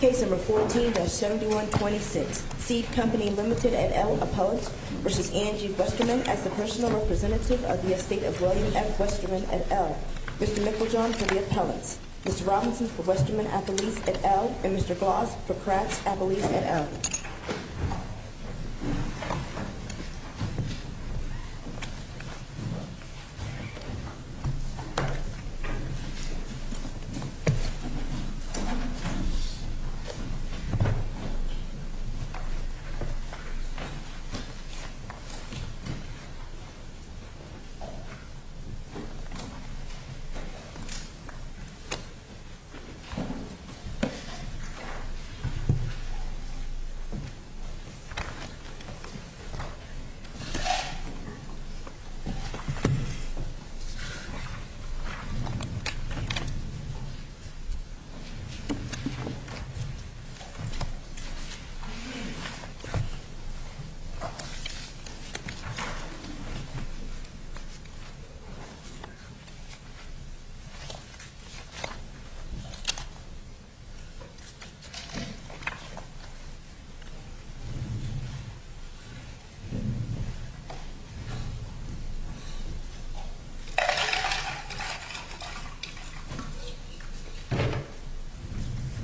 Case No. 14-7126. Seed Company Limited et al. appellants v. Angie Westerman as the personal representative of the estate of William F. Westerman et al. Mr. Mickeljohn for the appellants. Mr. Robinson for Westerman Appellees et al. and Mr. Gloss for Kratz Appellees et al. Mr. Gloss. Mr. Gloss.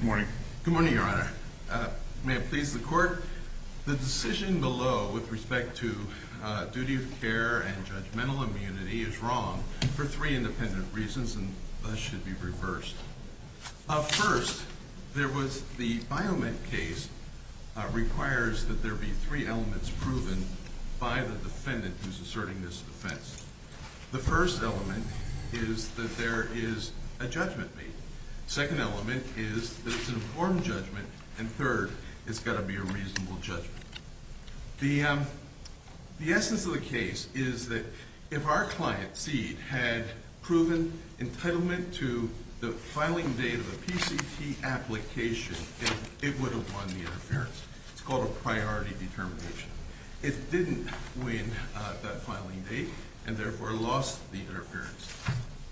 Good morning. Good morning, Your Honor. May it please the Court, the decision below with respect to duty of care and judgmental immunity is wrong for three independent reasons and thus should be reversed. First, there was the Biomet case requires that there be three elements proven by the defendant who's asserting this defense. The first element is that there is a judgment made. The second element is that it's an informed judgment. And third, it's got to be a reasonable judgment. The essence of the case is that if our client, Seed, had proven entitlement to the filing date of the PCT application, it would have won the interference. It's called a priority determination. It didn't win that filing date and therefore lost the interference.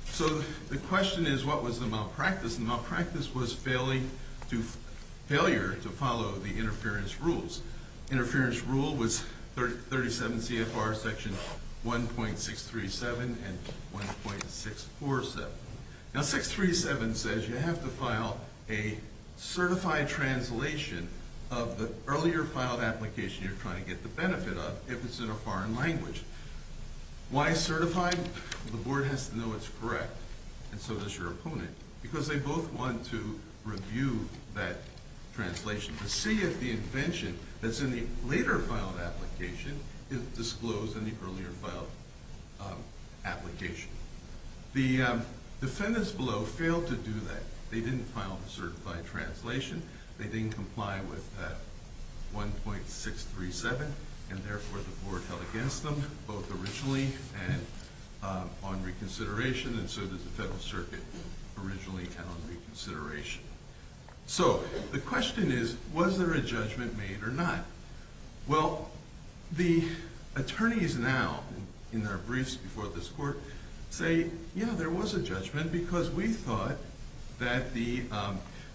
So the question is what was the malpractice? The malpractice was failure to follow the interference rules. Interference rule was 37 CFR section 1.637 and 1.647. Now 637 says you have to file a certified translation of the earlier filed application you're trying to get the benefit of if it's in a foreign language. Why certified? The board has to know it's correct and so does your opponent because they both want to review that translation to see if the invention that's in the later filed application is disclosed in the earlier filed application. The defendants below failed to do that. They didn't file the certified translation. They didn't comply with 1.637 and therefore the board held against them both originally and on reconsideration and so did the Federal Circuit originally and on reconsideration. So the question is was there a judgment made or not? Well the attorneys now in their briefs before this court say yeah there was a judgment because we thought that the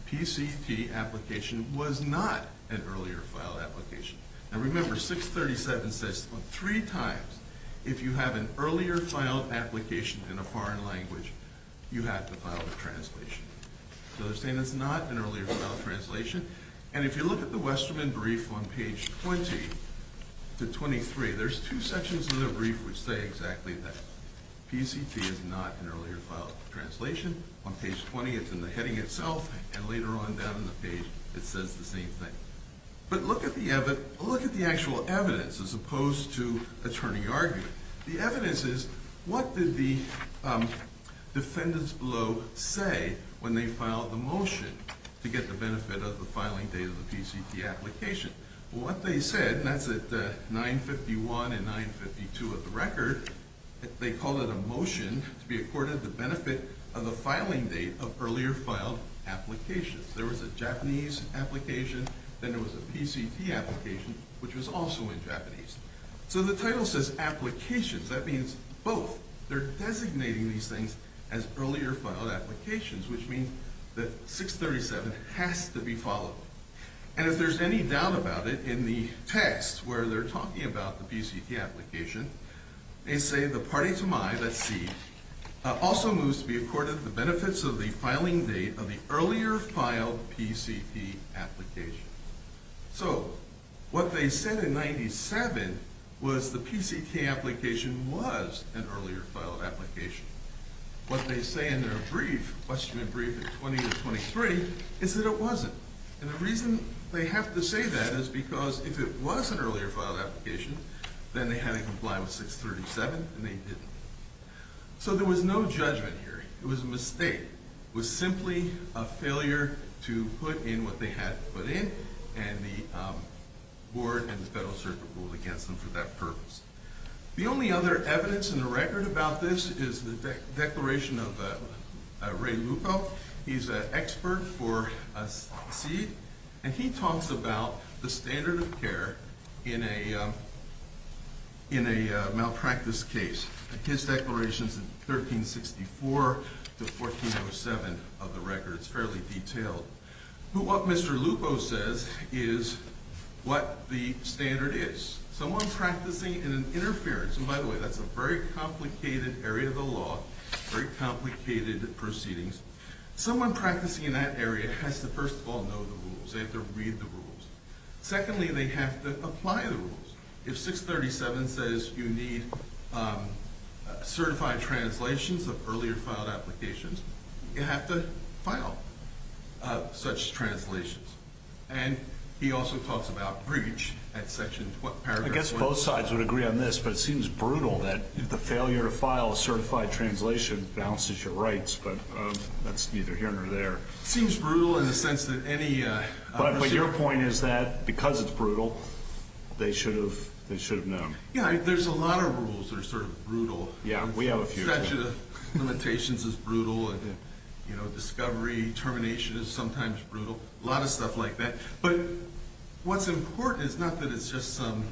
PCT application was not an earlier filed application. Now remember 637 says three times if you have an earlier filed application in a foreign language you have to file a translation. So they're saying it's not an earlier filed translation and if you look at the Westerman brief on page 20 to 23 there's two sections in the brief which say exactly that. PCT is not an earlier filed translation. On page 20 it's in the heading itself and later on down in the page it says the same thing. But look at the actual evidence as opposed to attorney argument. The evidence is what did the defendants below say when they filed the motion to get the benefit of the filing date of the PCT application? What they said and that's at 951 and 952 of the record. They called it a motion to be accorded the benefit of the filing date of earlier filed applications. There was a Japanese application then there was a PCT application which was also in Japanese. So the title says applications. That means both. They're designating these things as earlier filed applications which means that 637 has to be followed. And if there's any doubt about it in the text where they're talking about the PCT application they say the party to my, let's see, also moves to be accorded the benefits of the filing date of the earlier filed PCT application. So what they said in 97 was the PCT application was an earlier filed application. What they say in their brief, question and brief at 20 to 23 is that it wasn't. And the reason they have to say that is because if it was an earlier filed application then they had to comply with 637 and they didn't. So there was no judgment here. It was a mistake. It was simply a failure to put in what they had put in and the board and the Federal Circuit ruled against them for that purpose. The only other evidence in the record about this is the declaration of Ray Lupo. He's an expert for SEED and he talks about the standard of care in a malpractice case. His declaration is in 1364 to 1407 of the record. It's fairly detailed. But what Mr. Lupo says is what the standard is. Someone practicing in an interference, and by the way, that's a very complicated area of the law, very complicated proceedings. Someone practicing in that area has to first of all know the rules. They have to read the rules. Secondly, they have to apply the rules. If 637 says you need certified translations of earlier filed applications, you have to file such translations. And he also talks about breach at Section 12. I guess both sides would agree on this, but it seems brutal that the failure to file a certified translation balances your rights, but that's neither here nor there. It seems brutal in the sense that any... But your point is that because it's brutal, they should have known. Yeah, there's a lot of rules that are sort of brutal. Yeah, we have a few. Limitations is brutal and discovery, termination is sometimes brutal, a lot of stuff like that. But what's important is not that it's just some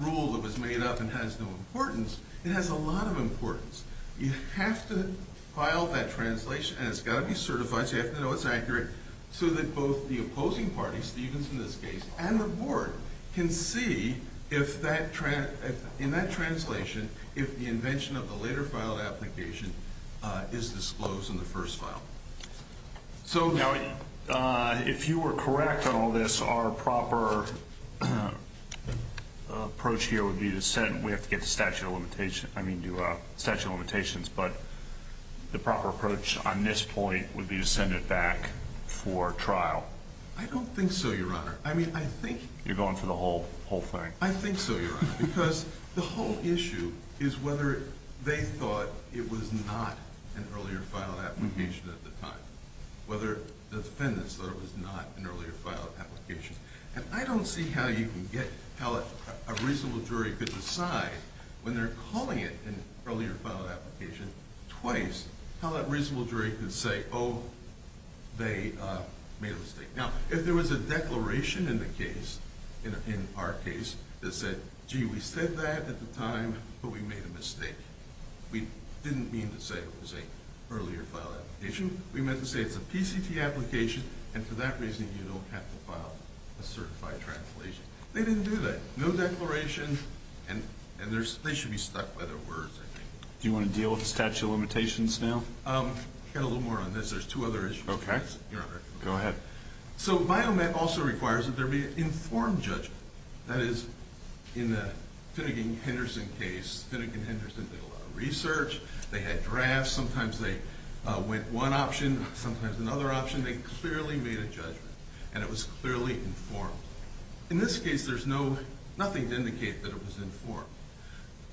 rule that was made up and has no importance. It has a lot of importance. You have to file that translation, and it's got to be certified, so you have to know it's accurate, so that both the opposing party, Stevens in this case, and the board can see in that translation if the invention of the later filed application is disclosed in the first file. Now, if you were correct on all this, our proper approach here would be to send... We have to get the statute of limitations, but the proper approach on this point would be to send it back for trial. I don't think so, Your Honor. I mean, I think... You're going for the whole thing. I think so, Your Honor, because the whole issue is whether they thought it was not an earlier filed application at the time, whether the defendants thought it was not an earlier filed application. And I don't see how you can get, how a reasonable jury could decide when they're calling it an earlier filed application twice, how that reasonable jury could say, oh, they made a mistake. Now, if there was a declaration in the case, in our case, that said, gee, we said that at the time, but we made a mistake. We didn't mean to say it was an earlier filed application. We meant to say it's a PCT application, and for that reason, you don't have to file a certified translation. They didn't do that. No declaration, and they should be stuck by their words, I think. Do you want to deal with the statute of limitations now? Get a little more on this. There's two other issues. Okay. Your Honor. Go ahead. So, Biomet also requires that there be an informed judgment. That is, in the Finnegan-Henderson case, Finnegan-Henderson did a lot of research. They had drafts. Sometimes they went one option, sometimes another option. They clearly made a judgment, and it was clearly informed. In this case, there's nothing to indicate that it was informed.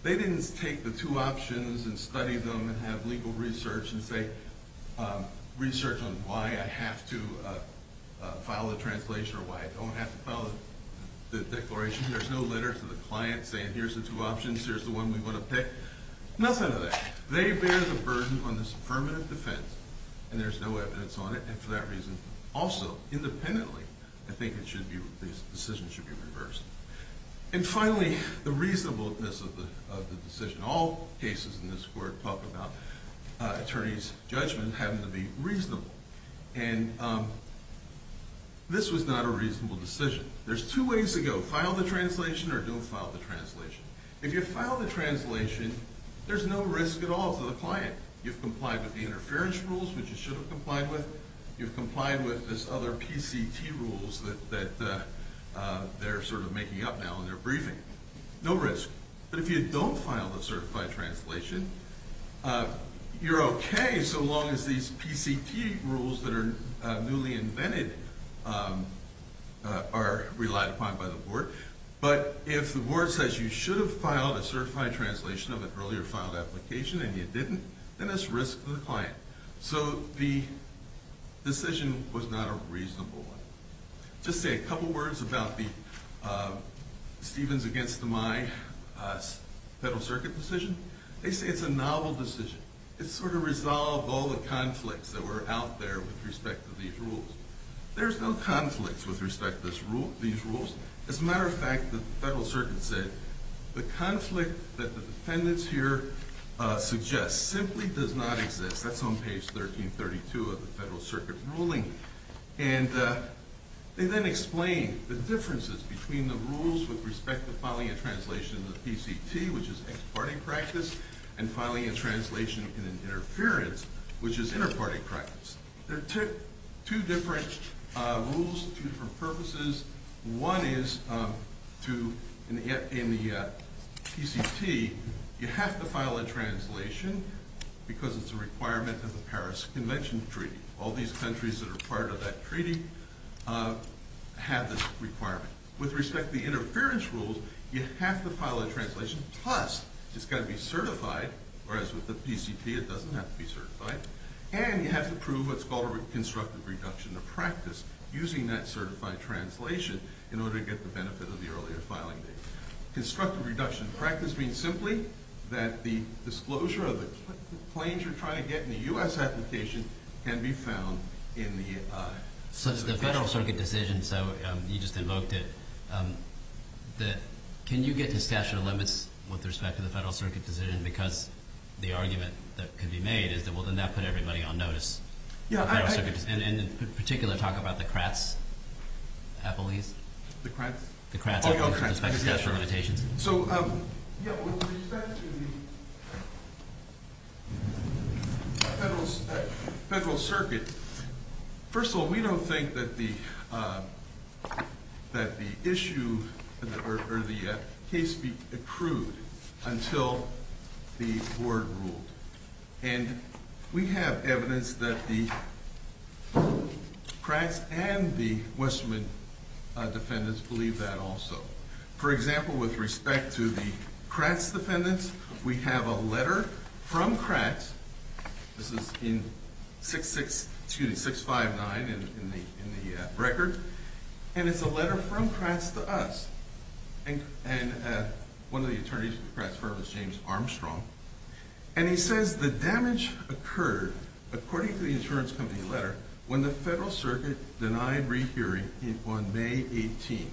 They didn't take the two options and study them and have legal research and say research on why I have to file a translation or why I don't have to file the declaration. There's no letter to the client saying here's the two options, here's the one we want to pick. Nothing like that. They bear the burden on this affirmative defense, and there's no evidence on it, and for that reason, also, independently, I think the decision should be reversed. And finally, the reasonableness of the decision. All cases in this court talk about attorneys' judgment having to be reasonable, and this was not a reasonable decision. There's two ways to go, file the translation or don't file the translation. If you file the translation, there's no risk at all to the client. You've complied with the interference rules, which you should have complied with. You've complied with this other PCT rules that they're sort of making up now in their briefing. No risk. But if you don't file the certified translation, you're okay so long as these PCT rules that are newly invented are relied upon by the board. But if the board says you should have filed a certified translation of an earlier filed application and you didn't, then it's risk to the client. So the decision was not a reasonable one. Just say a couple words about the Stevens against DeMai Federal Circuit decision. They say it's a novel decision. It sort of resolved all the conflicts that were out there with respect to these rules. There's no conflicts with respect to these rules. As a matter of fact, the Federal Circuit said the conflict that the defendants here suggest simply does not exist. That's on page 1332 of the Federal Circuit ruling. And they then explain the differences between the rules with respect to filing a translation of the PCT, which is ex parte practice, and filing a translation in an interference, which is inter parte practice. There are two different rules, two different purposes. One is in the PCT, you have to file a translation because it's a requirement of the Paris Convention Treaty. All these countries that are part of that treaty have this requirement. With respect to the interference rules, you have to file a translation, plus it's got to be certified, whereas with the PCT it doesn't have to be certified. And you have to prove what's called a constructive reduction of practice using that certified translation in order to get the benefit of the earlier filing date. Constructive reduction of practice means simply that the disclosure of the claims you're trying to get in the U.S. application can be found in the PCT. So the Federal Circuit decision, so you just invoked it, can you get to statute of limits with respect to the Federal Circuit decision? Because the argument that could be made is that, well, then that would put everybody on notice. And in particular, talk about the Kratts appellees. The Kratts? The Kratts with respect to statute of limitations. So, yeah, with respect to the Federal Circuit, first of all, we don't think that the issue or the case be approved until the board ruled. And we have evidence that the Kratts and the Westerman defendants believe that also. For example, with respect to the Kratts defendants, we have a letter from Kratts. This is in 6.59 in the record. And it's a letter from Kratts to us. And one of the attorneys at the Kratts firm is James Armstrong. And he says the damage occurred, according to the insurance company letter, when the Federal Circuit denied rehearing on May 18th.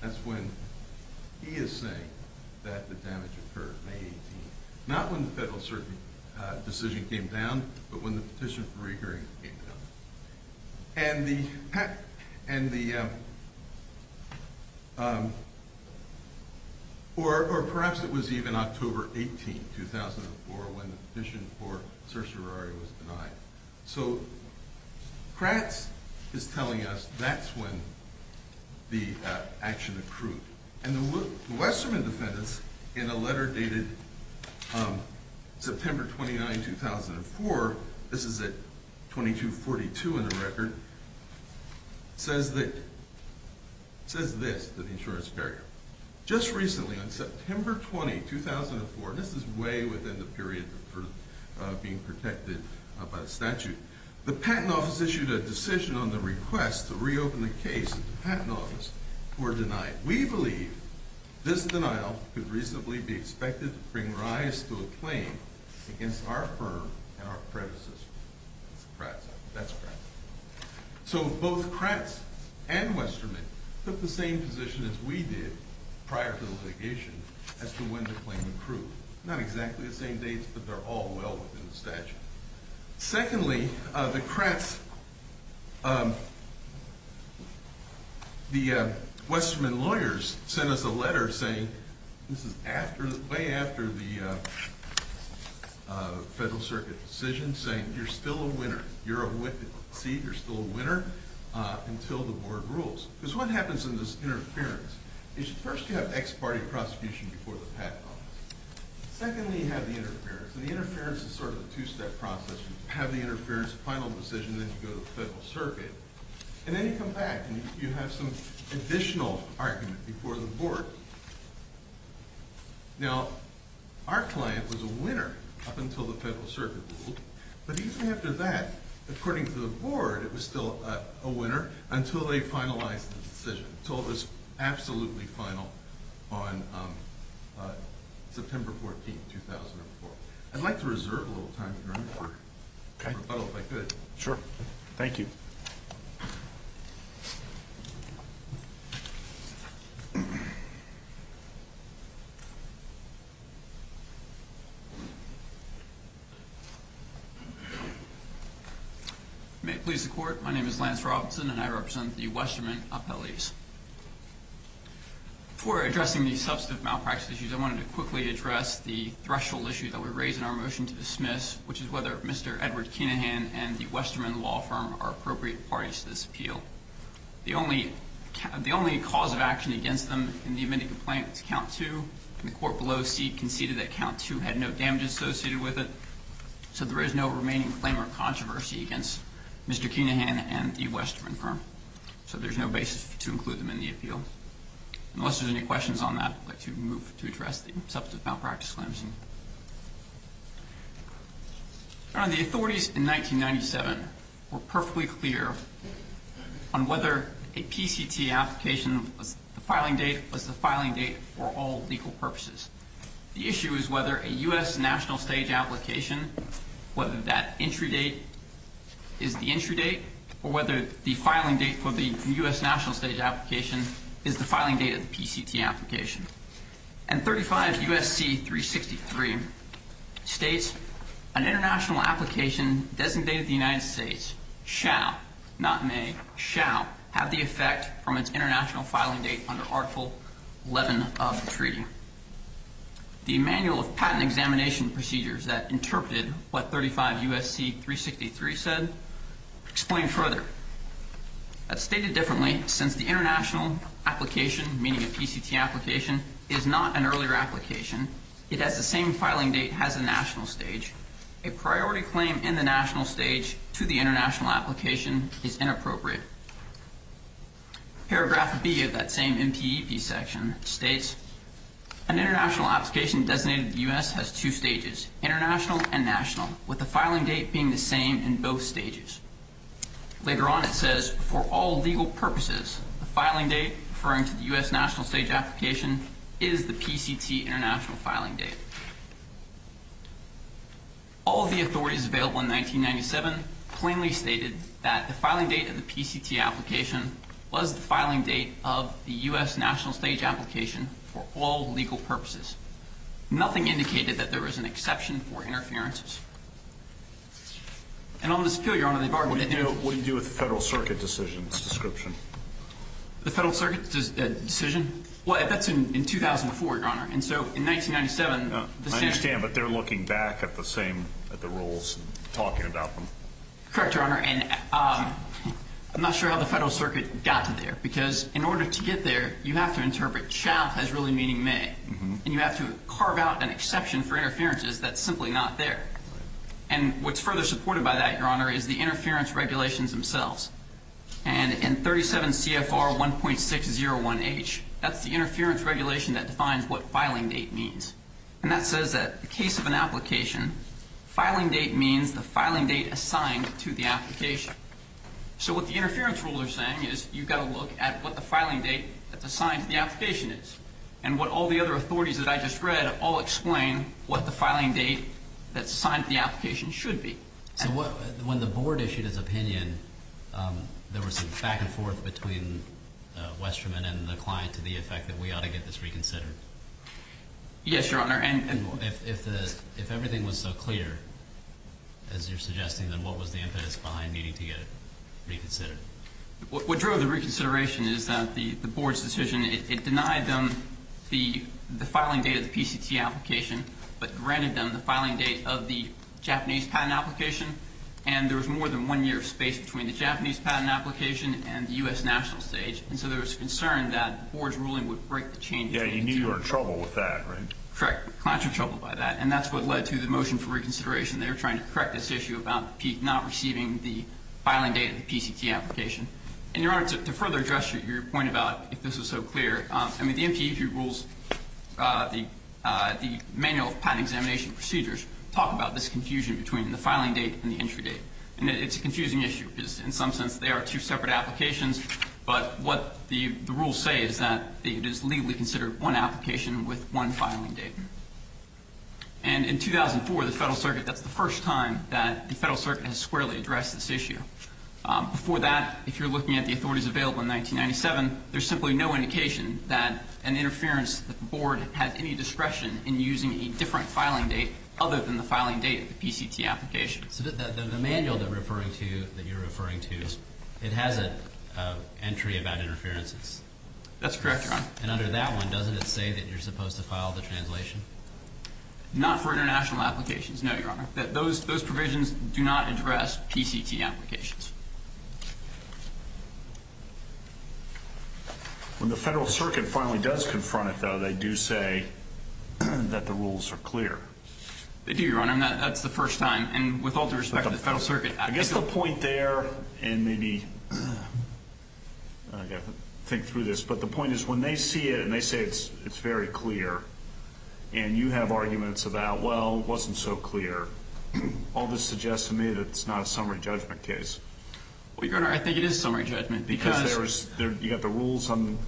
That's when he is saying that the damage occurred, May 18th. Not when the Federal Circuit decision came down, but when the petition for rehearing came down. And the, or perhaps it was even October 18th, 2004, when the petition for certiorari was denied. So, Kratts is telling us that's when the action accrued. And the Westerman defendants, in a letter dated September 29, 2004, this is at 2242 in the record, says this to the insurance barrier. Just recently, on September 20, 2004, this is way within the period for being protected by the statute, the Patent Office issued a decision on the request to reopen the case of the Patent Office who were denied. We believe this denial could reasonably be expected to bring rise to a claim against our firm and our predecessors. That's Kratts. That's Kratts. So, both Kratts and Westerman took the same position as we did prior to the litigation as to when to claim accrued. Not exactly the same dates, but they're all well within the statute. Secondly, the Kratts, the Westerman lawyers sent us a letter saying, this is after, way after the Federal Circuit decision, saying you're still a winner. You're still a winner until the board rules. Because what happens in this interference is first you have ex-party prosecution before the Patent Office. Secondly, you have the interference. And the interference is sort of a two-step process. You have the interference, final decision, then you go to the Federal Circuit. And then you come back and you have some additional argument before the board. Now, our client was a winner up until the Federal Circuit ruled. But even after that, according to the board, it was still a winner until they finalized the decision. Until this absolutely final on September 14, 2004. I'd like to reserve a little time here. Okay. If I could. Sure. Thank you. May it please the Court. My name is Lance Robinson, and I represent the Westerman appellees. Before addressing the substantive malpractice issues, I wanted to quickly address the threshold issue that we raised in our motion to dismiss, which is whether Mr. Edward Kenahan and the Westerman law firm are appropriate parties to this appeal. The only cause of action against them in the amended complaint is count two, and the court below conceded that count two had no damage associated with it. So there is no remaining claim or controversy against Mr. Kenahan and the Westerman firm. So there's no basis to include them in the appeal. Unless there's any questions on that, I'd like to move to address the substantive malpractice claims. Your Honor, the authorities in 1997 were perfectly clear on whether a PCT application, the filing date was the filing date for all legal purposes. The issue is whether a U.S. national stage application, whether that entry date is the entry date, or whether the filing date for the U.S. national stage application is the filing date of the PCT application. And 35 U.S.C. 363 states, an international application designated to the United States shall, not may, shall have the effect from its international filing date under Article 11 of the treaty. The manual of patent examination procedures that interpreted what 35 U.S.C. 363 said explain further. That's stated differently since the international application, meaning a PCT application, is not an earlier application. It has the same filing date as a national stage. A priority claim in the national stage to the international application is inappropriate. Paragraph B of that same MPEP section states, an international application designated to the U.S. has two stages, international and national, with the filing date being the same in both stages. Later on it says, for all legal purposes, the filing date referring to the U.S. national stage application is the PCT international filing date. All of the authorities available in 1997 plainly stated that the filing date of the PCT application was the filing date of the U.S. national stage application for all legal purposes. Nothing indicated that there was an exception for interferences. And on this appeal, Your Honor, they bargained. What do you do with the Federal Circuit decision's description? The Federal Circuit decision? Well, that's in 2004, Your Honor. And so in 1997, the same. I understand, but they're looking back at the rules and talking about them. Correct, Your Honor. And I'm not sure how the Federal Circuit got to there, because in order to get there, you have to interpret child has really meaning may, and you have to carve out an exception for interferences that's simply not there. And what's further supported by that, Your Honor, is the interference regulations themselves. And in 37 CFR 1.601H, that's the interference regulation that defines what filing date means. And that says that in the case of an application, filing date means the filing date assigned to the application. So what the interference rule is saying is you've got to look at what the filing date that's assigned to the application is, and what all the other authorities that I just read all explain what the filing date that's assigned to the application should be. So when the Board issued its opinion, there was some back and forth between Westerman and the client to the effect that we ought to get this reconsidered? Yes, Your Honor, and more. If everything was so clear as you're suggesting, then what was the impetus behind needing to get it reconsidered? What drove the reconsideration is that the Board's decision, it denied them the filing date of the PCT application, but granted them the filing date of the Japanese patent application, and there was more than one year of space between the Japanese patent application and the U.S. national stage. And so there was concern that the Board's ruling would break the changes. Yeah, you knew you were in trouble with that, right? Correct. The clients were troubled by that, and that's what led to the motion for reconsideration. They were trying to correct this issue about not receiving the filing date of the PCT application. And, Your Honor, to further address your point about if this was so clear, I mean, the MPEG rules, the manual of patent examination procedures talk about this confusion between the filing date and the entry date. And it's a confusing issue because in some sense they are two separate applications, but what the rules say is that it is legally considered one application with one filing date. And in 2004, the Federal Circuit, that's the first time that the Federal Circuit has squarely addressed this issue. Before that, if you're looking at the authorities available in 1997, there's simply no indication that an interference that the Board had any discretion in using a different filing date other than the filing date of the PCT application. So the manual that you're referring to, it has an entry about interferences. That's correct, Your Honor. And under that one, doesn't it say that you're supposed to file the translation? Not for international applications, no, Your Honor. Those provisions do not address PCT applications. When the Federal Circuit finally does confront it, though, they do say that the rules are clear. They do, Your Honor, and that's the first time. And with all due respect to the Federal Circuit, I guess the point there, and maybe I've got to think through this, but the point is when they see it and they say it's very clear, and you have arguments about, well, it wasn't so clear, all this suggests to me that it's not a summary judgment case. Well, Your Honor, I think it is summary judgment because there was, you've got the rules on,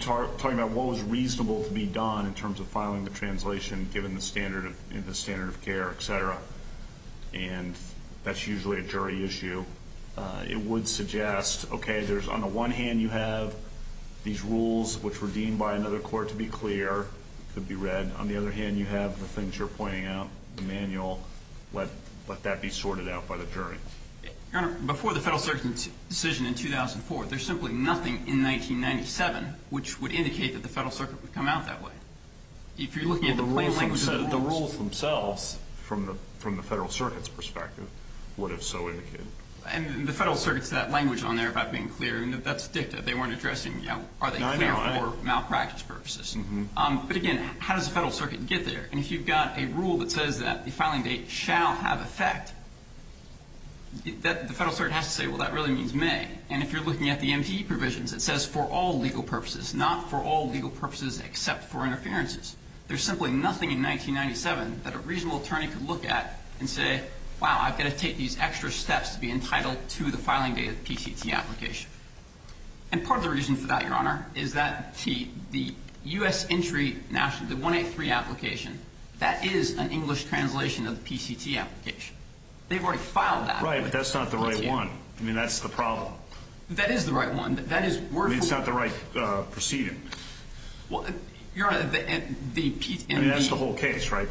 talking about what was reasonable to be done in terms of filing the translation given the standard of care, et cetera, and that's usually a jury issue. It would suggest, okay, there's on the one hand you have these rules which were deemed by another court to be clear, could be read. On the other hand, you have the things you're pointing out, the manual. Let that be sorted out by the jury. Your Honor, before the Federal Circuit's decision in 2004, there's simply nothing in 1997 which would indicate that the Federal Circuit would come out that way. If you're looking at the plain language of the rules. The rules themselves, from the Federal Circuit's perspective, would have so indicated. And the Federal Circuit's that language on there about being clear, and that's dicta. They weren't addressing, you know, are they clear for malpractice purposes. But again, how does the Federal Circuit get there? And if you've got a rule that says that the filing date shall have effect, the Federal Circuit has to say, well, that really means may. And if you're looking at the MTE provisions, it says for all legal purposes, not for all legal purposes except for interferences. There's simply nothing in 1997 that a reasonable attorney could look at and say, wow, I've got to take these extra steps to be entitled to the filing date of the PCT application. And part of the reason for that, Your Honor, is that the U.S. entry, the 183 application, that is an English translation of the PCT application. They've already filed that. Right, but that's not the right one. I mean, that's the problem. That is the right one. I mean, it's not the right proceeding. Your Honor, the PCT. I mean, that's the whole case, right?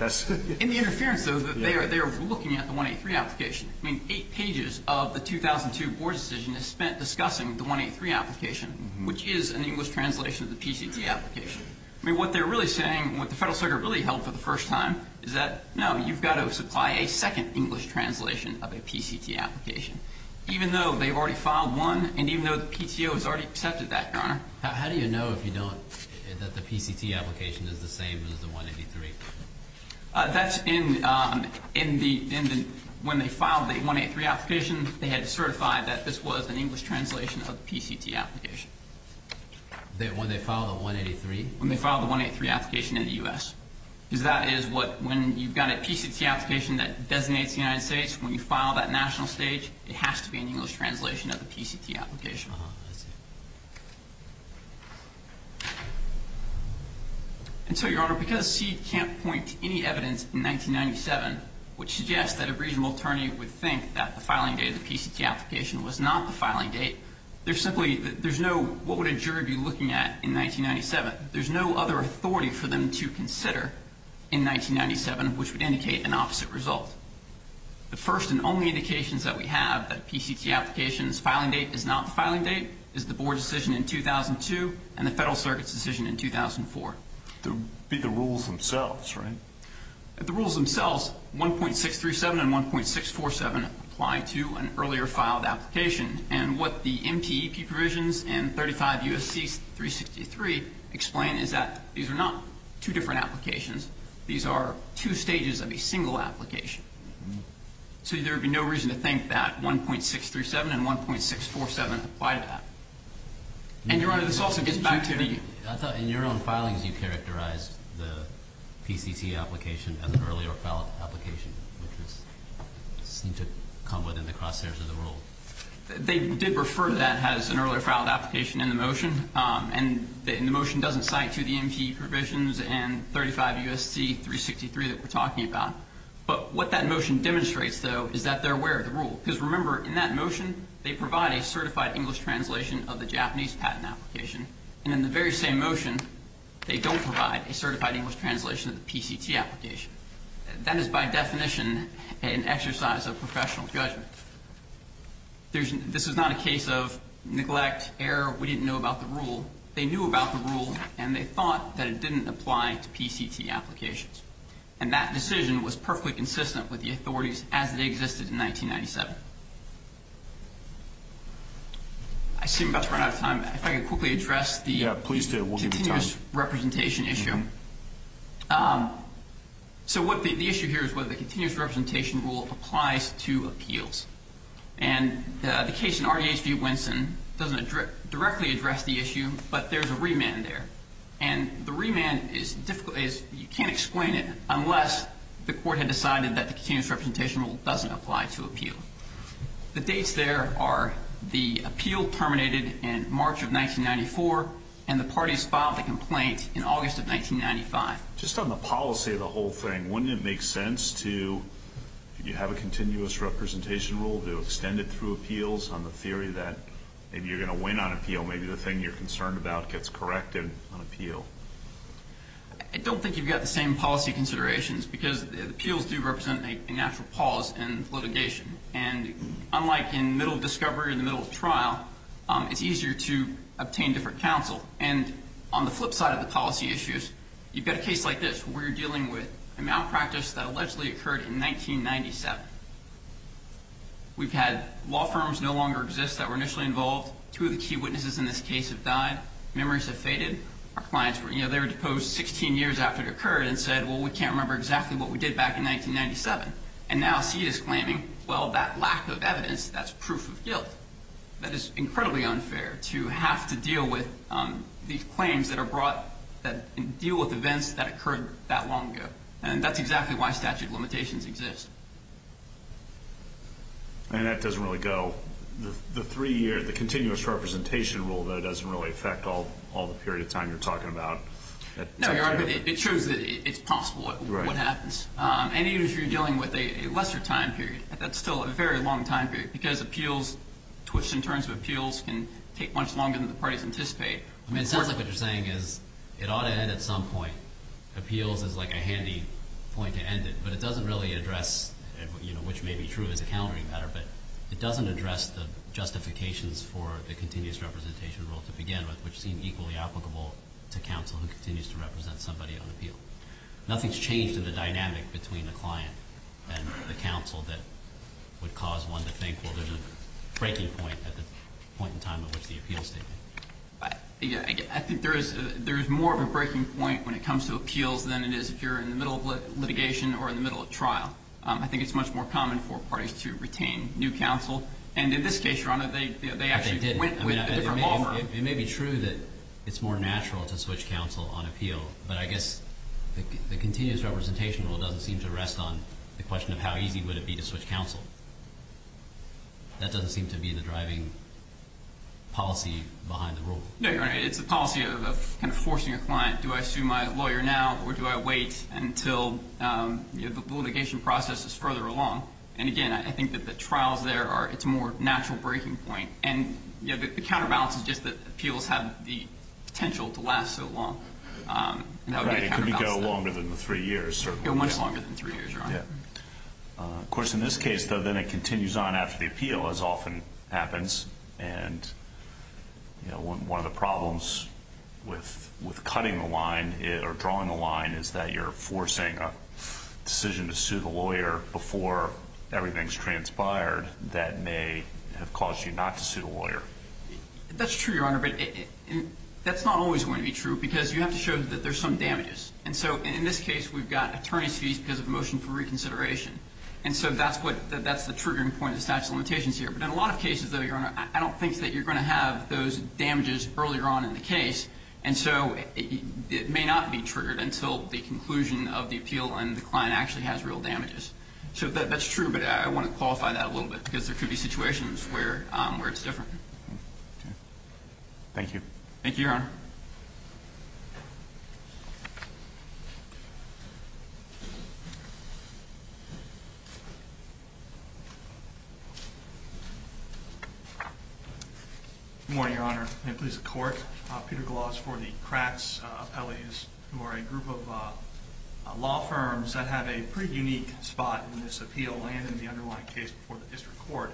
In the interference, though, they are looking at the 183 application. I mean, eight pages of the 2002 board decision is spent discussing the 183 application, which is an English translation of the PCT application. I mean, what they're really saying, what the Federal Circuit really held for the first time, is that, no, you've got to supply a second English translation of a PCT application, even though they've already filed one and even though the PTO has already accepted that, Your Honor. How do you know if you don't, that the PCT application is the same as the 183? That's in the, when they filed the 183 application, they had to certify that this was an English translation of the PCT application. When they filed the 183? When they filed the 183 application in the U.S. Because that is what, when you've got a PCT application that designates the United States, when you file that national stage, it has to be an English translation of the PCT application. Uh-huh, I see. And so, Your Honor, because C can't point to any evidence in 1997, which suggests that a reasonable attorney would think that the filing date of the PCT application was not the filing date, there's simply, there's no, what would a jury be looking at in 1997? There's no other authority for them to consider in 1997, which would indicate an opposite result. The first and only indications that we have that PCT application's filing date is not the filing date is the Board decision in 2002 and the Federal Circuit's decision in 2004. But the rules themselves, right? The rules themselves, 1.637 and 1.647 apply to an earlier filed application, and what the MTEP provisions and 35 U.S.C. 363 explain is that these are not two different applications. These are two stages of a single application. So there would be no reason to think that 1.637 and 1.647 apply to that. And, Your Honor, this also gets back to the- I thought in your own filings you characterized the PCT application as an earlier filed application, which seemed to come within the crosshairs of the rule. They did refer to that as an earlier filed application in the motion, and the motion doesn't cite to the MTEP provisions and 35 U.S.C. 363 that we're talking about. But what that motion demonstrates, though, is that they're aware of the rule. Because, remember, in that motion they provide a certified English translation of the Japanese patent application, and in the very same motion they don't provide a certified English translation of the PCT application. That is, by definition, an exercise of professional judgment. This is not a case of neglect, error, we didn't know about the rule. They knew about the rule, and they thought that it didn't apply to PCT applications. And that decision was perfectly consistent with the authorities as they existed in 1997. I seem about to run out of time. If I could quickly address the- Yeah, please do. We'll give you time. Continuous representation issue. So what the issue here is whether the continuous representation rule applies to appeals. And the case in RDH v. Winson doesn't directly address the issue, but there's a remand there. And the remand is difficult. You can't explain it unless the court had decided that the continuous representation rule doesn't apply to appeal. The dates there are the appeal terminated in March of 1994, and the parties filed the complaint in August of 1995. Just on the policy of the whole thing, wouldn't it make sense to, if you have a continuous representation rule, to extend it through appeals on the theory that maybe you're going to win on appeal, maybe the thing you're concerned about gets corrected on appeal? I don't think you've got the same policy considerations because appeals do represent a natural pause in litigation. And unlike in the middle of discovery or the middle of trial, it's easier to obtain different counsel. And on the flip side of the policy issues, you've got a case like this where you're dealing with a malpractice that allegedly occurred in 1997. We've had law firms no longer exist that were initially involved. Two of the key witnesses in this case have died. Memories have faded. They were deposed 16 years after it occurred and said, well, we can't remember exactly what we did back in 1997. And now CEDA is claiming, well, that lack of evidence, that's proof of guilt. That is incredibly unfair to have to deal with these claims that are brought that deal with events that occurred that long ago. And that's exactly why statute of limitations exists. And that doesn't really go. Well, the continuous representation rule, though, doesn't really affect all the period of time you're talking about. No, you're right, but it shows that it's possible what happens. And even if you're dealing with a lesser time period, that's still a very long time period because appeals, in terms of appeals, can take much longer than the parties anticipate. I mean, it sounds like what you're saying is it ought to end at some point. Appeals is like a handy point to end it. But it doesn't really address, which may be true as a countering matter, but it doesn't address the justifications for the continuous representation rule to begin with, which seem equally applicable to counsel who continues to represent somebody on appeal. Nothing's changed in the dynamic between the client and the counsel that would cause one to think, well, there's a breaking point at the point in time at which the appeal is taking place. I think there is more of a breaking point when it comes to appeals than it is if you're in the middle of litigation or in the middle of trial. I think it's much more common for parties to retain new counsel. And in this case, Your Honor, they actually went with a different law firm. It may be true that it's more natural to switch counsel on appeal, but I guess the continuous representation rule doesn't seem to rest on the question of how easy would it be to switch counsel. That doesn't seem to be the driving policy behind the rule. No, Your Honor. It's a policy of kind of forcing a client. Do I sue my lawyer now or do I wait until the litigation process is further along? And, again, I think that the trials there, it's a more natural breaking point. And the counterbalance is just that appeals have the potential to last so long. Right. It could go longer than three years, certainly. Go much longer than three years, Your Honor. Of course, in this case, then it continues on after the appeal, as often happens. And, you know, one of the problems with cutting the line or drawing the line is that you're forcing a decision to sue the lawyer before everything's transpired that may have caused you not to sue the lawyer. That's true, Your Honor, but that's not always going to be true because you have to show that there's some damages. And so in this case, we've got attorney's fees because of a motion for reconsideration. And so that's the triggering point of the statute of limitations here. But in a lot of cases, though, Your Honor, I don't think that you're going to have those damages earlier on in the case. And so it may not be triggered until the conclusion of the appeal and the client actually has real damages. So that's true, but I want to qualify that a little bit because there could be situations where it's different. Okay. Thank you. Thank you, Your Honor. Good morning, Your Honor. May it please the Court. Peter Gloss for the Kratz appellees, who are a group of law firms that have a pretty unique spot in this appeal and in the underlying case before the district court,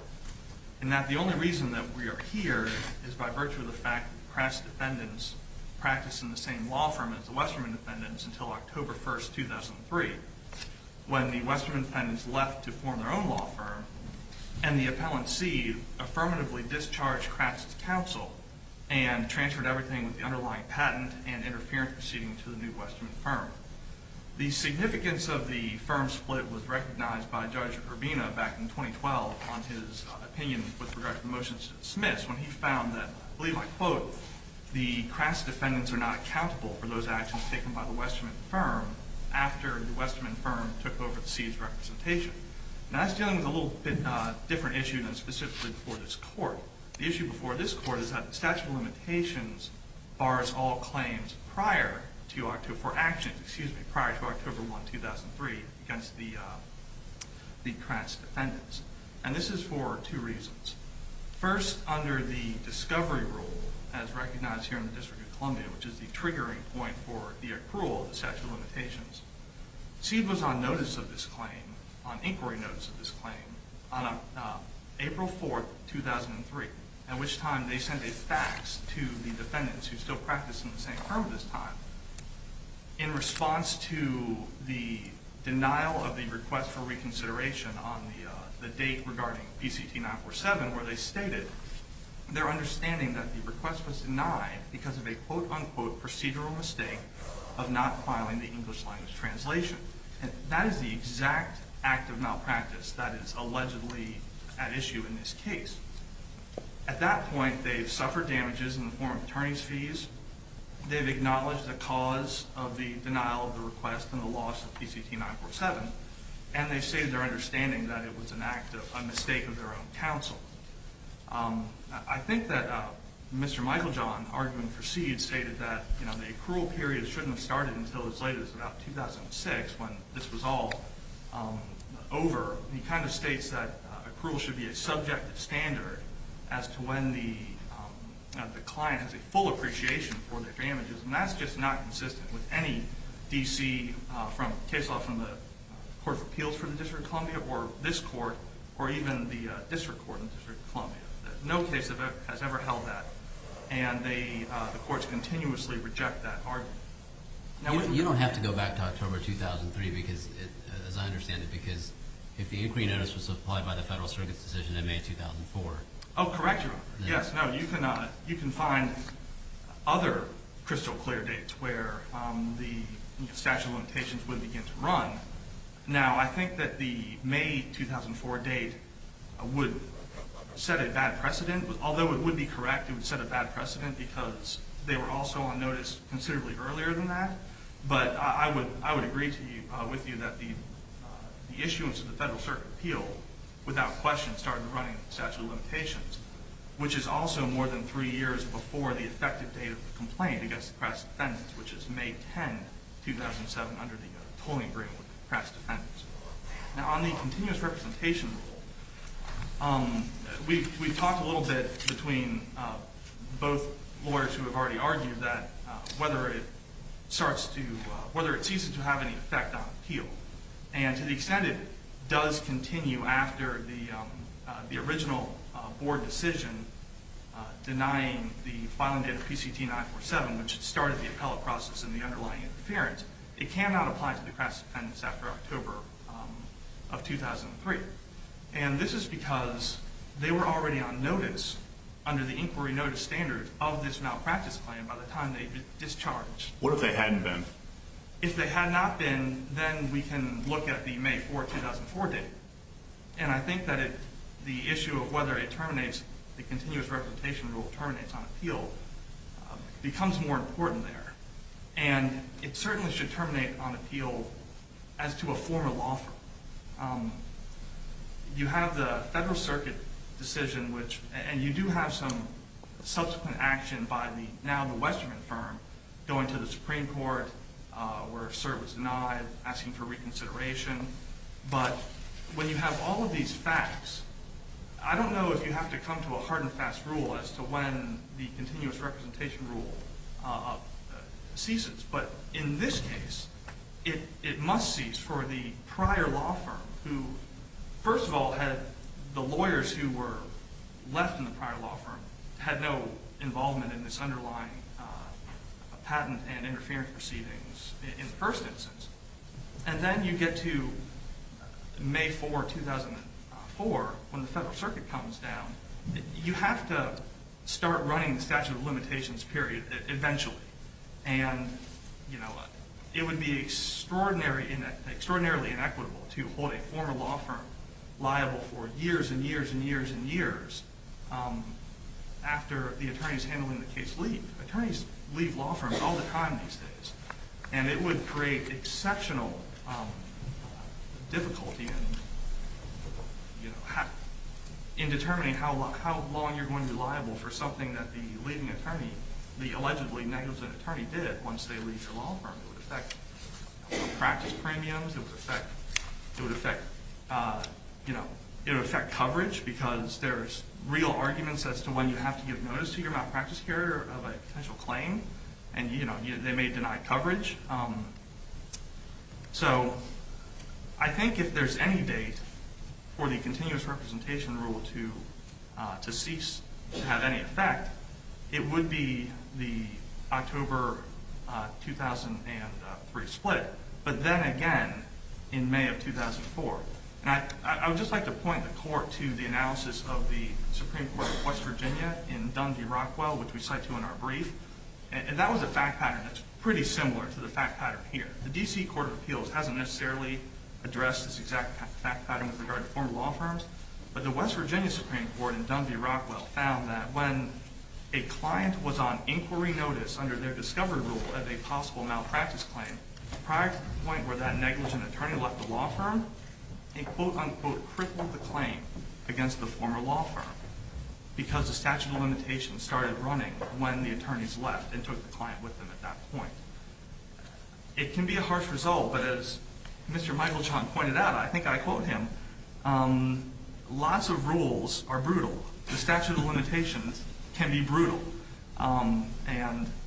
in that the only reason that we are here is by virtue of the fact that Kratz defendants practiced in the same law firm as the Westerman defendants until October 1, 2003, when the Westerman defendants left to form their own law firm and the appellant, C, affirmatively discharged Kratz's counsel and transferred everything with the underlying patent and interference proceeding to the new Westerman firm. The significance of the firm split was recognized by Judge Urbina back in 2012 on his opinion with regard to the motion to dismiss when he found that, I believe I quote, the Kratz defendants are not accountable for those actions taken by the Westerman firm after the Westerman firm took over the C's representation. Now that's dealing with a little bit different issue than specifically before this court. The issue before this court is that the statute of limitations bars all claims prior to October, for actions, excuse me, prior to October 1, 2003 against the Kratz defendants. And this is for two reasons. First, under the discovery rule as recognized here in the District of Columbia, which is the triggering point for the accrual of the statute of limitations, C was on notice of this claim, on inquiry notice of this claim, on April 4, 2003, at which time they sent a fax to the defendants who still practiced in the same firm at this time. In response to the denial of the request for reconsideration on the date regarding BCT 947, where they stated their understanding that the request was denied because of a, quote, unquote, procedural mistake of not filing the English language translation. And that is the exact act of malpractice that is allegedly at issue in this case. At that point, they've suffered damages in the form of attorneys' fees. They've acknowledged the cause of the denial of the request and the loss of BCT 947. And they've stated their understanding that it was an act of a mistake of their own counsel. I think that Mr. Michael John, arguing for C, had stated that the accrual period shouldn't have started until as late as about 2006, when this was all over. He kind of states that accrual should be a subjective standard as to when the client has a full appreciation for the damages. And that's just not consistent with any D.C. case law from the Court of Appeals for the District of Columbia or this court or even the district court in the District of Columbia. No case has ever held that. And the courts continuously reject that argument. You don't have to go back to October 2003 because, as I understand it, because if the inquiry notice was supplied by the Federal Circuit's decision in May 2004. Oh, correct, Your Honor. Yes, no, you can find other crystal clear dates where the statute of limitations would begin to run. Now, I think that the May 2004 date would set a bad precedent. Although it would be correct, it would set a bad precedent because they were also on notice considerably earlier than that. But I would agree with you that the issuance of the Federal Circuit Appeal, without question, started running statute of limitations, which is also more than three years before the effective date of the complaint against the press defendants, which is May 10, 2007, under the tolling agreement with the press defendants. Now, on the continuous representation rule, we've talked a little bit between both lawyers who have already argued that whether it starts to, whether it ceases to have any effect on appeal. And to the extent it does continue after the original board decision denying the filing date of PCT 947, which started the appellate process and the underlying interference, it cannot apply to the press defendants after October of 2003. And this is because they were already on notice under the inquiry notice standard of this malpractice plan by the time they discharged. What if they hadn't been? If they had not been, then we can look at the May 4, 2004 date. And I think that the issue of whether it terminates, the continuous representation rule terminates on appeal, becomes more important there. And it certainly should terminate on appeal as to a formal offer. You have the Federal Circuit decision, and you do have some subsequent action by now the Westerman firm going to the Supreme Court where a cert was denied, asking for reconsideration. But when you have all of these facts, I don't know if you have to come to a hard and fast rule as to when the continuous representation rule ceases. But in this case, it must cease for the prior law firm, who first of all had the lawyers who were left in the prior law firm had no involvement in this underlying patent and interference proceedings in the first instance. And then you get to May 4, 2004 when the Federal Circuit comes down. You have to start running the statute of limitations period eventually. And it would be extraordinarily inequitable to hold a former law firm liable for years and years and years and years after the attorneys handling the case leave. Attorneys leave law firms all the time these days. And it would create exceptional difficulty in determining how long you're going to be liable for something that the leaving attorney, the allegedly negligent attorney did once they leave the law firm. It would affect practice premiums. It would affect coverage because there's real arguments as to when you have to give notice to your malpractice carrier of a potential claim. And they may deny coverage. So I think if there's any date for the continuous representation rule to cease to have any effect, it would be the October 2003 split, but then again in May of 2004. And I would just like to point the court to the analysis of the Supreme Court of West Virginia in Dundee-Rockwell, which we cite to in our brief. And that was a fact pattern that's pretty similar to the fact pattern here. The D.C. Court of Appeals hasn't necessarily addressed this exact fact pattern with regard to former law firms. But the West Virginia Supreme Court in Dundee-Rockwell found that when a client was on inquiry notice under their discovery rule of a possible malpractice claim, prior to the point where that negligent attorney left the law firm, they quote-unquote crippled the claim against the former law firm because the statute of limitations started running when the attorneys left and took the client with them at that point. It can be a harsh result, but as Mr. Michael Chong pointed out, I think I quote him, lots of rules are brutal. The statute of limitations can be brutal. And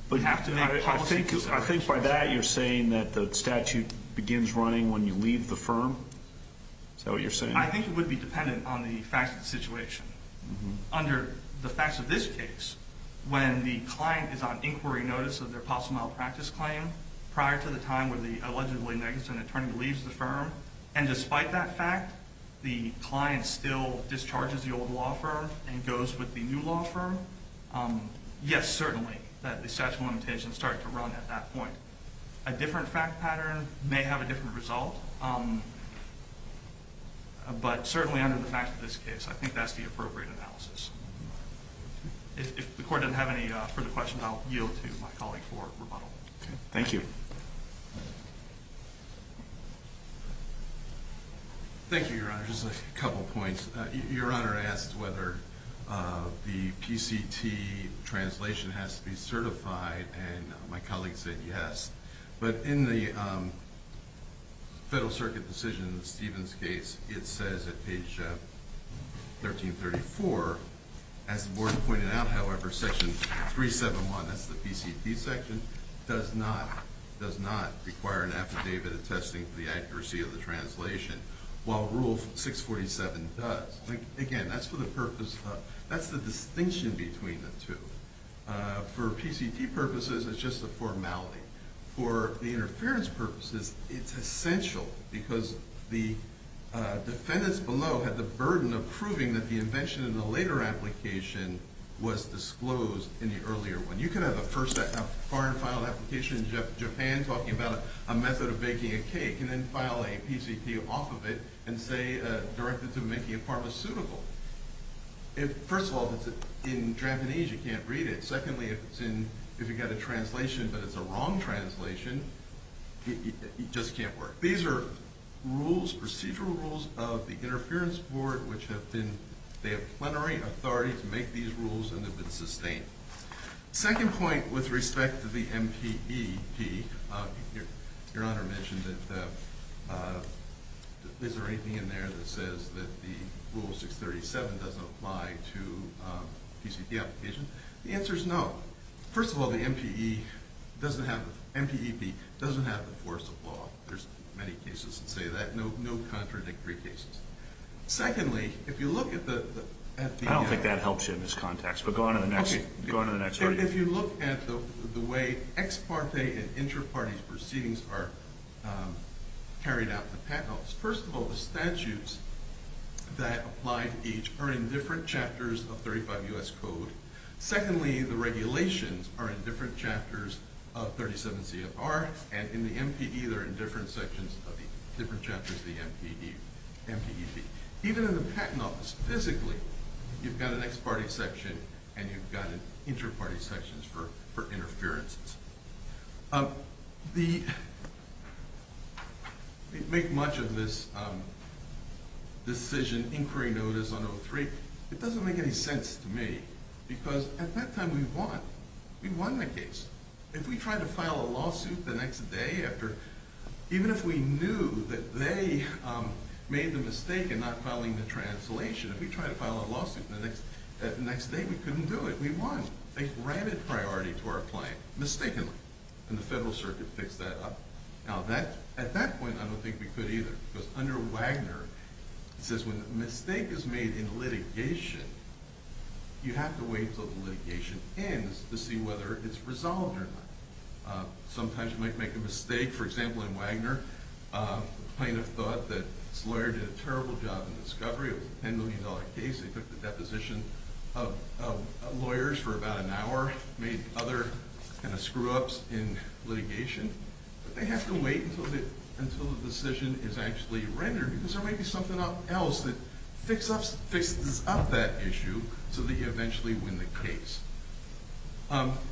we have to make policy decisions. I think by that you're saying that the statute begins running when you leave the firm? Is that what you're saying? I think it would be dependent on the facts of the situation. Under the facts of this case, when the client is on inquiry notice of their possible malpractice claim, prior to the time where the allegedly negligent attorney leaves the firm, and despite that fact, the client still discharges the old law firm and goes with the new law firm, yes, certainly, that the statute of limitations started to run at that point. A different fact pattern may have a different result. But certainly under the facts of this case, I think that's the appropriate analysis. If the court doesn't have any further questions, I'll yield to my colleague for rebuttal. Thank you. Thank you, Your Honor. Just a couple points. Your Honor asked whether the PCT translation has to be certified, and my colleague said yes. But in the Federal Circuit decision, Stephen's case, it says at page 1334, as the board pointed out, however, section 371, that's the PCT section, does not require an affidavit attesting to the accuracy of the translation, while Rule 647 does. Again, that's the distinction between the two. For PCT purposes, it's just a formality. For the interference purposes, it's essential, because the defendants below had the burden of proving that the invention in the later application was disclosed in the earlier one. You could have a first and final application in Japan talking about a method of baking a cake, and then file a PCT off of it and say directed to making it pharmaceutical. First of all, if it's in Japanese, you can't read it. Secondly, if you've got a translation but it's a wrong translation, it just can't work. These are procedural rules of the Interference Board, which they have plenary authority to make these rules and they've been sustained. Second point with respect to the MPEP, your Honor mentioned that is there anything in there that says that the Rule 637 doesn't apply to PCT applications? The answer is no. First of all, the MPEP doesn't have the force of law. There's many cases that say that, no contradictory cases. Secondly, if you look at the... I don't think that helps you in this context, but go on to the next. If you look at the way ex parte and inter parte proceedings are carried out in the Patent Office, first of all, the statutes that apply to each are in different chapters of 35 U.S. Code. Secondly, the regulations are in different chapters of 37 CFR, and in the MPE they're in different sections of the different chapters of the MPEP. Even in the Patent Office, physically, you've got an ex parte section and you've got inter parte sections for interferences. The... We make much of this decision inquiry notice on 03. It doesn't make any sense to me because at that time we won. We won the case. If we try to file a lawsuit the next day after... We're not filing the translation. If we try to file a lawsuit the next day, we couldn't do it. We won. They granted priority to our plan, mistakenly, and the Federal Circuit fixed that up. Now, at that point, I don't think we could either because under Wagner, it says when a mistake is made in litigation, you have to wait until the litigation ends to see whether it's resolved or not. Sometimes you might make a mistake. For example, in Wagner, the plaintiff thought that his lawyer did a terrible job in discovery of a $10 million case. They took the deposition of lawyers for about an hour, made other kind of screw ups in litigation, but they have to wait until the decision is actually rendered because there might be something else that fixes up that issue so that you eventually win the case.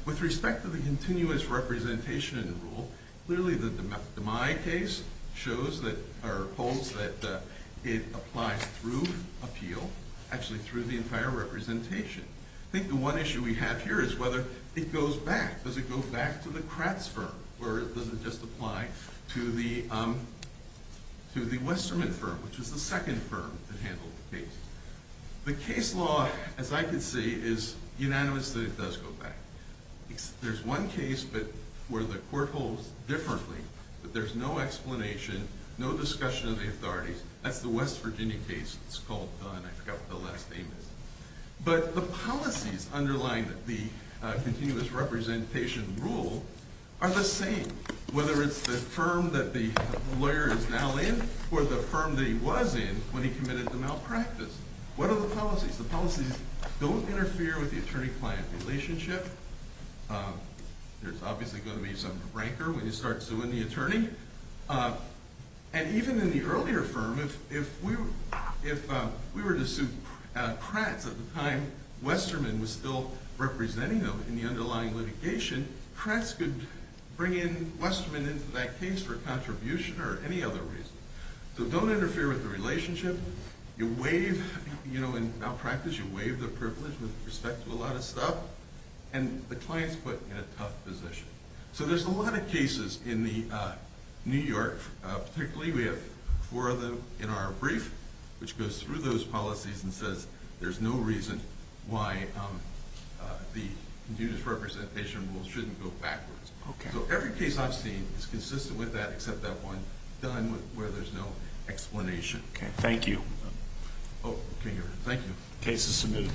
With respect to the continuous representation rule, clearly the DeMai case holds that it applies through appeal, actually through the entire representation. I think the one issue we have here is whether it goes back. Does it go back to the Kratz firm or does it just apply to the Westermann firm, The case law, as I can see, is unanimous that it does go back. There's one case where the court holds differently, but there's no explanation, no discussion of the authorities. That's the West Virginia case. It's called Dunn. I forgot what the last name is. But the policies underlying the continuous representation rule are the same, whether it's the firm that the lawyer is now in or the firm that he was in when he committed the malpractice. What are the policies? The policies don't interfere with the attorney-client relationship. There's obviously going to be some breaker when you start suing the attorney. And even in the earlier firm, if we were to sue Kratz at the time, Westermann was still representing them in the underlying litigation. Kratz could bring in Westermann into that case for a contribution or any other reason. So don't interfere with the relationship. In malpractice, you waive the privilege with respect to a lot of stuff. And the client's put in a tough position. So there's a lot of cases in New York. Particularly, we have four of them in our brief, which goes through those policies and says there's no reason why the continuous representation rule shouldn't go backwards. So every case I've seen is consistent with that, except that one, Dunn, where there's no explanation. Thank you. Thank you. Case is submitted.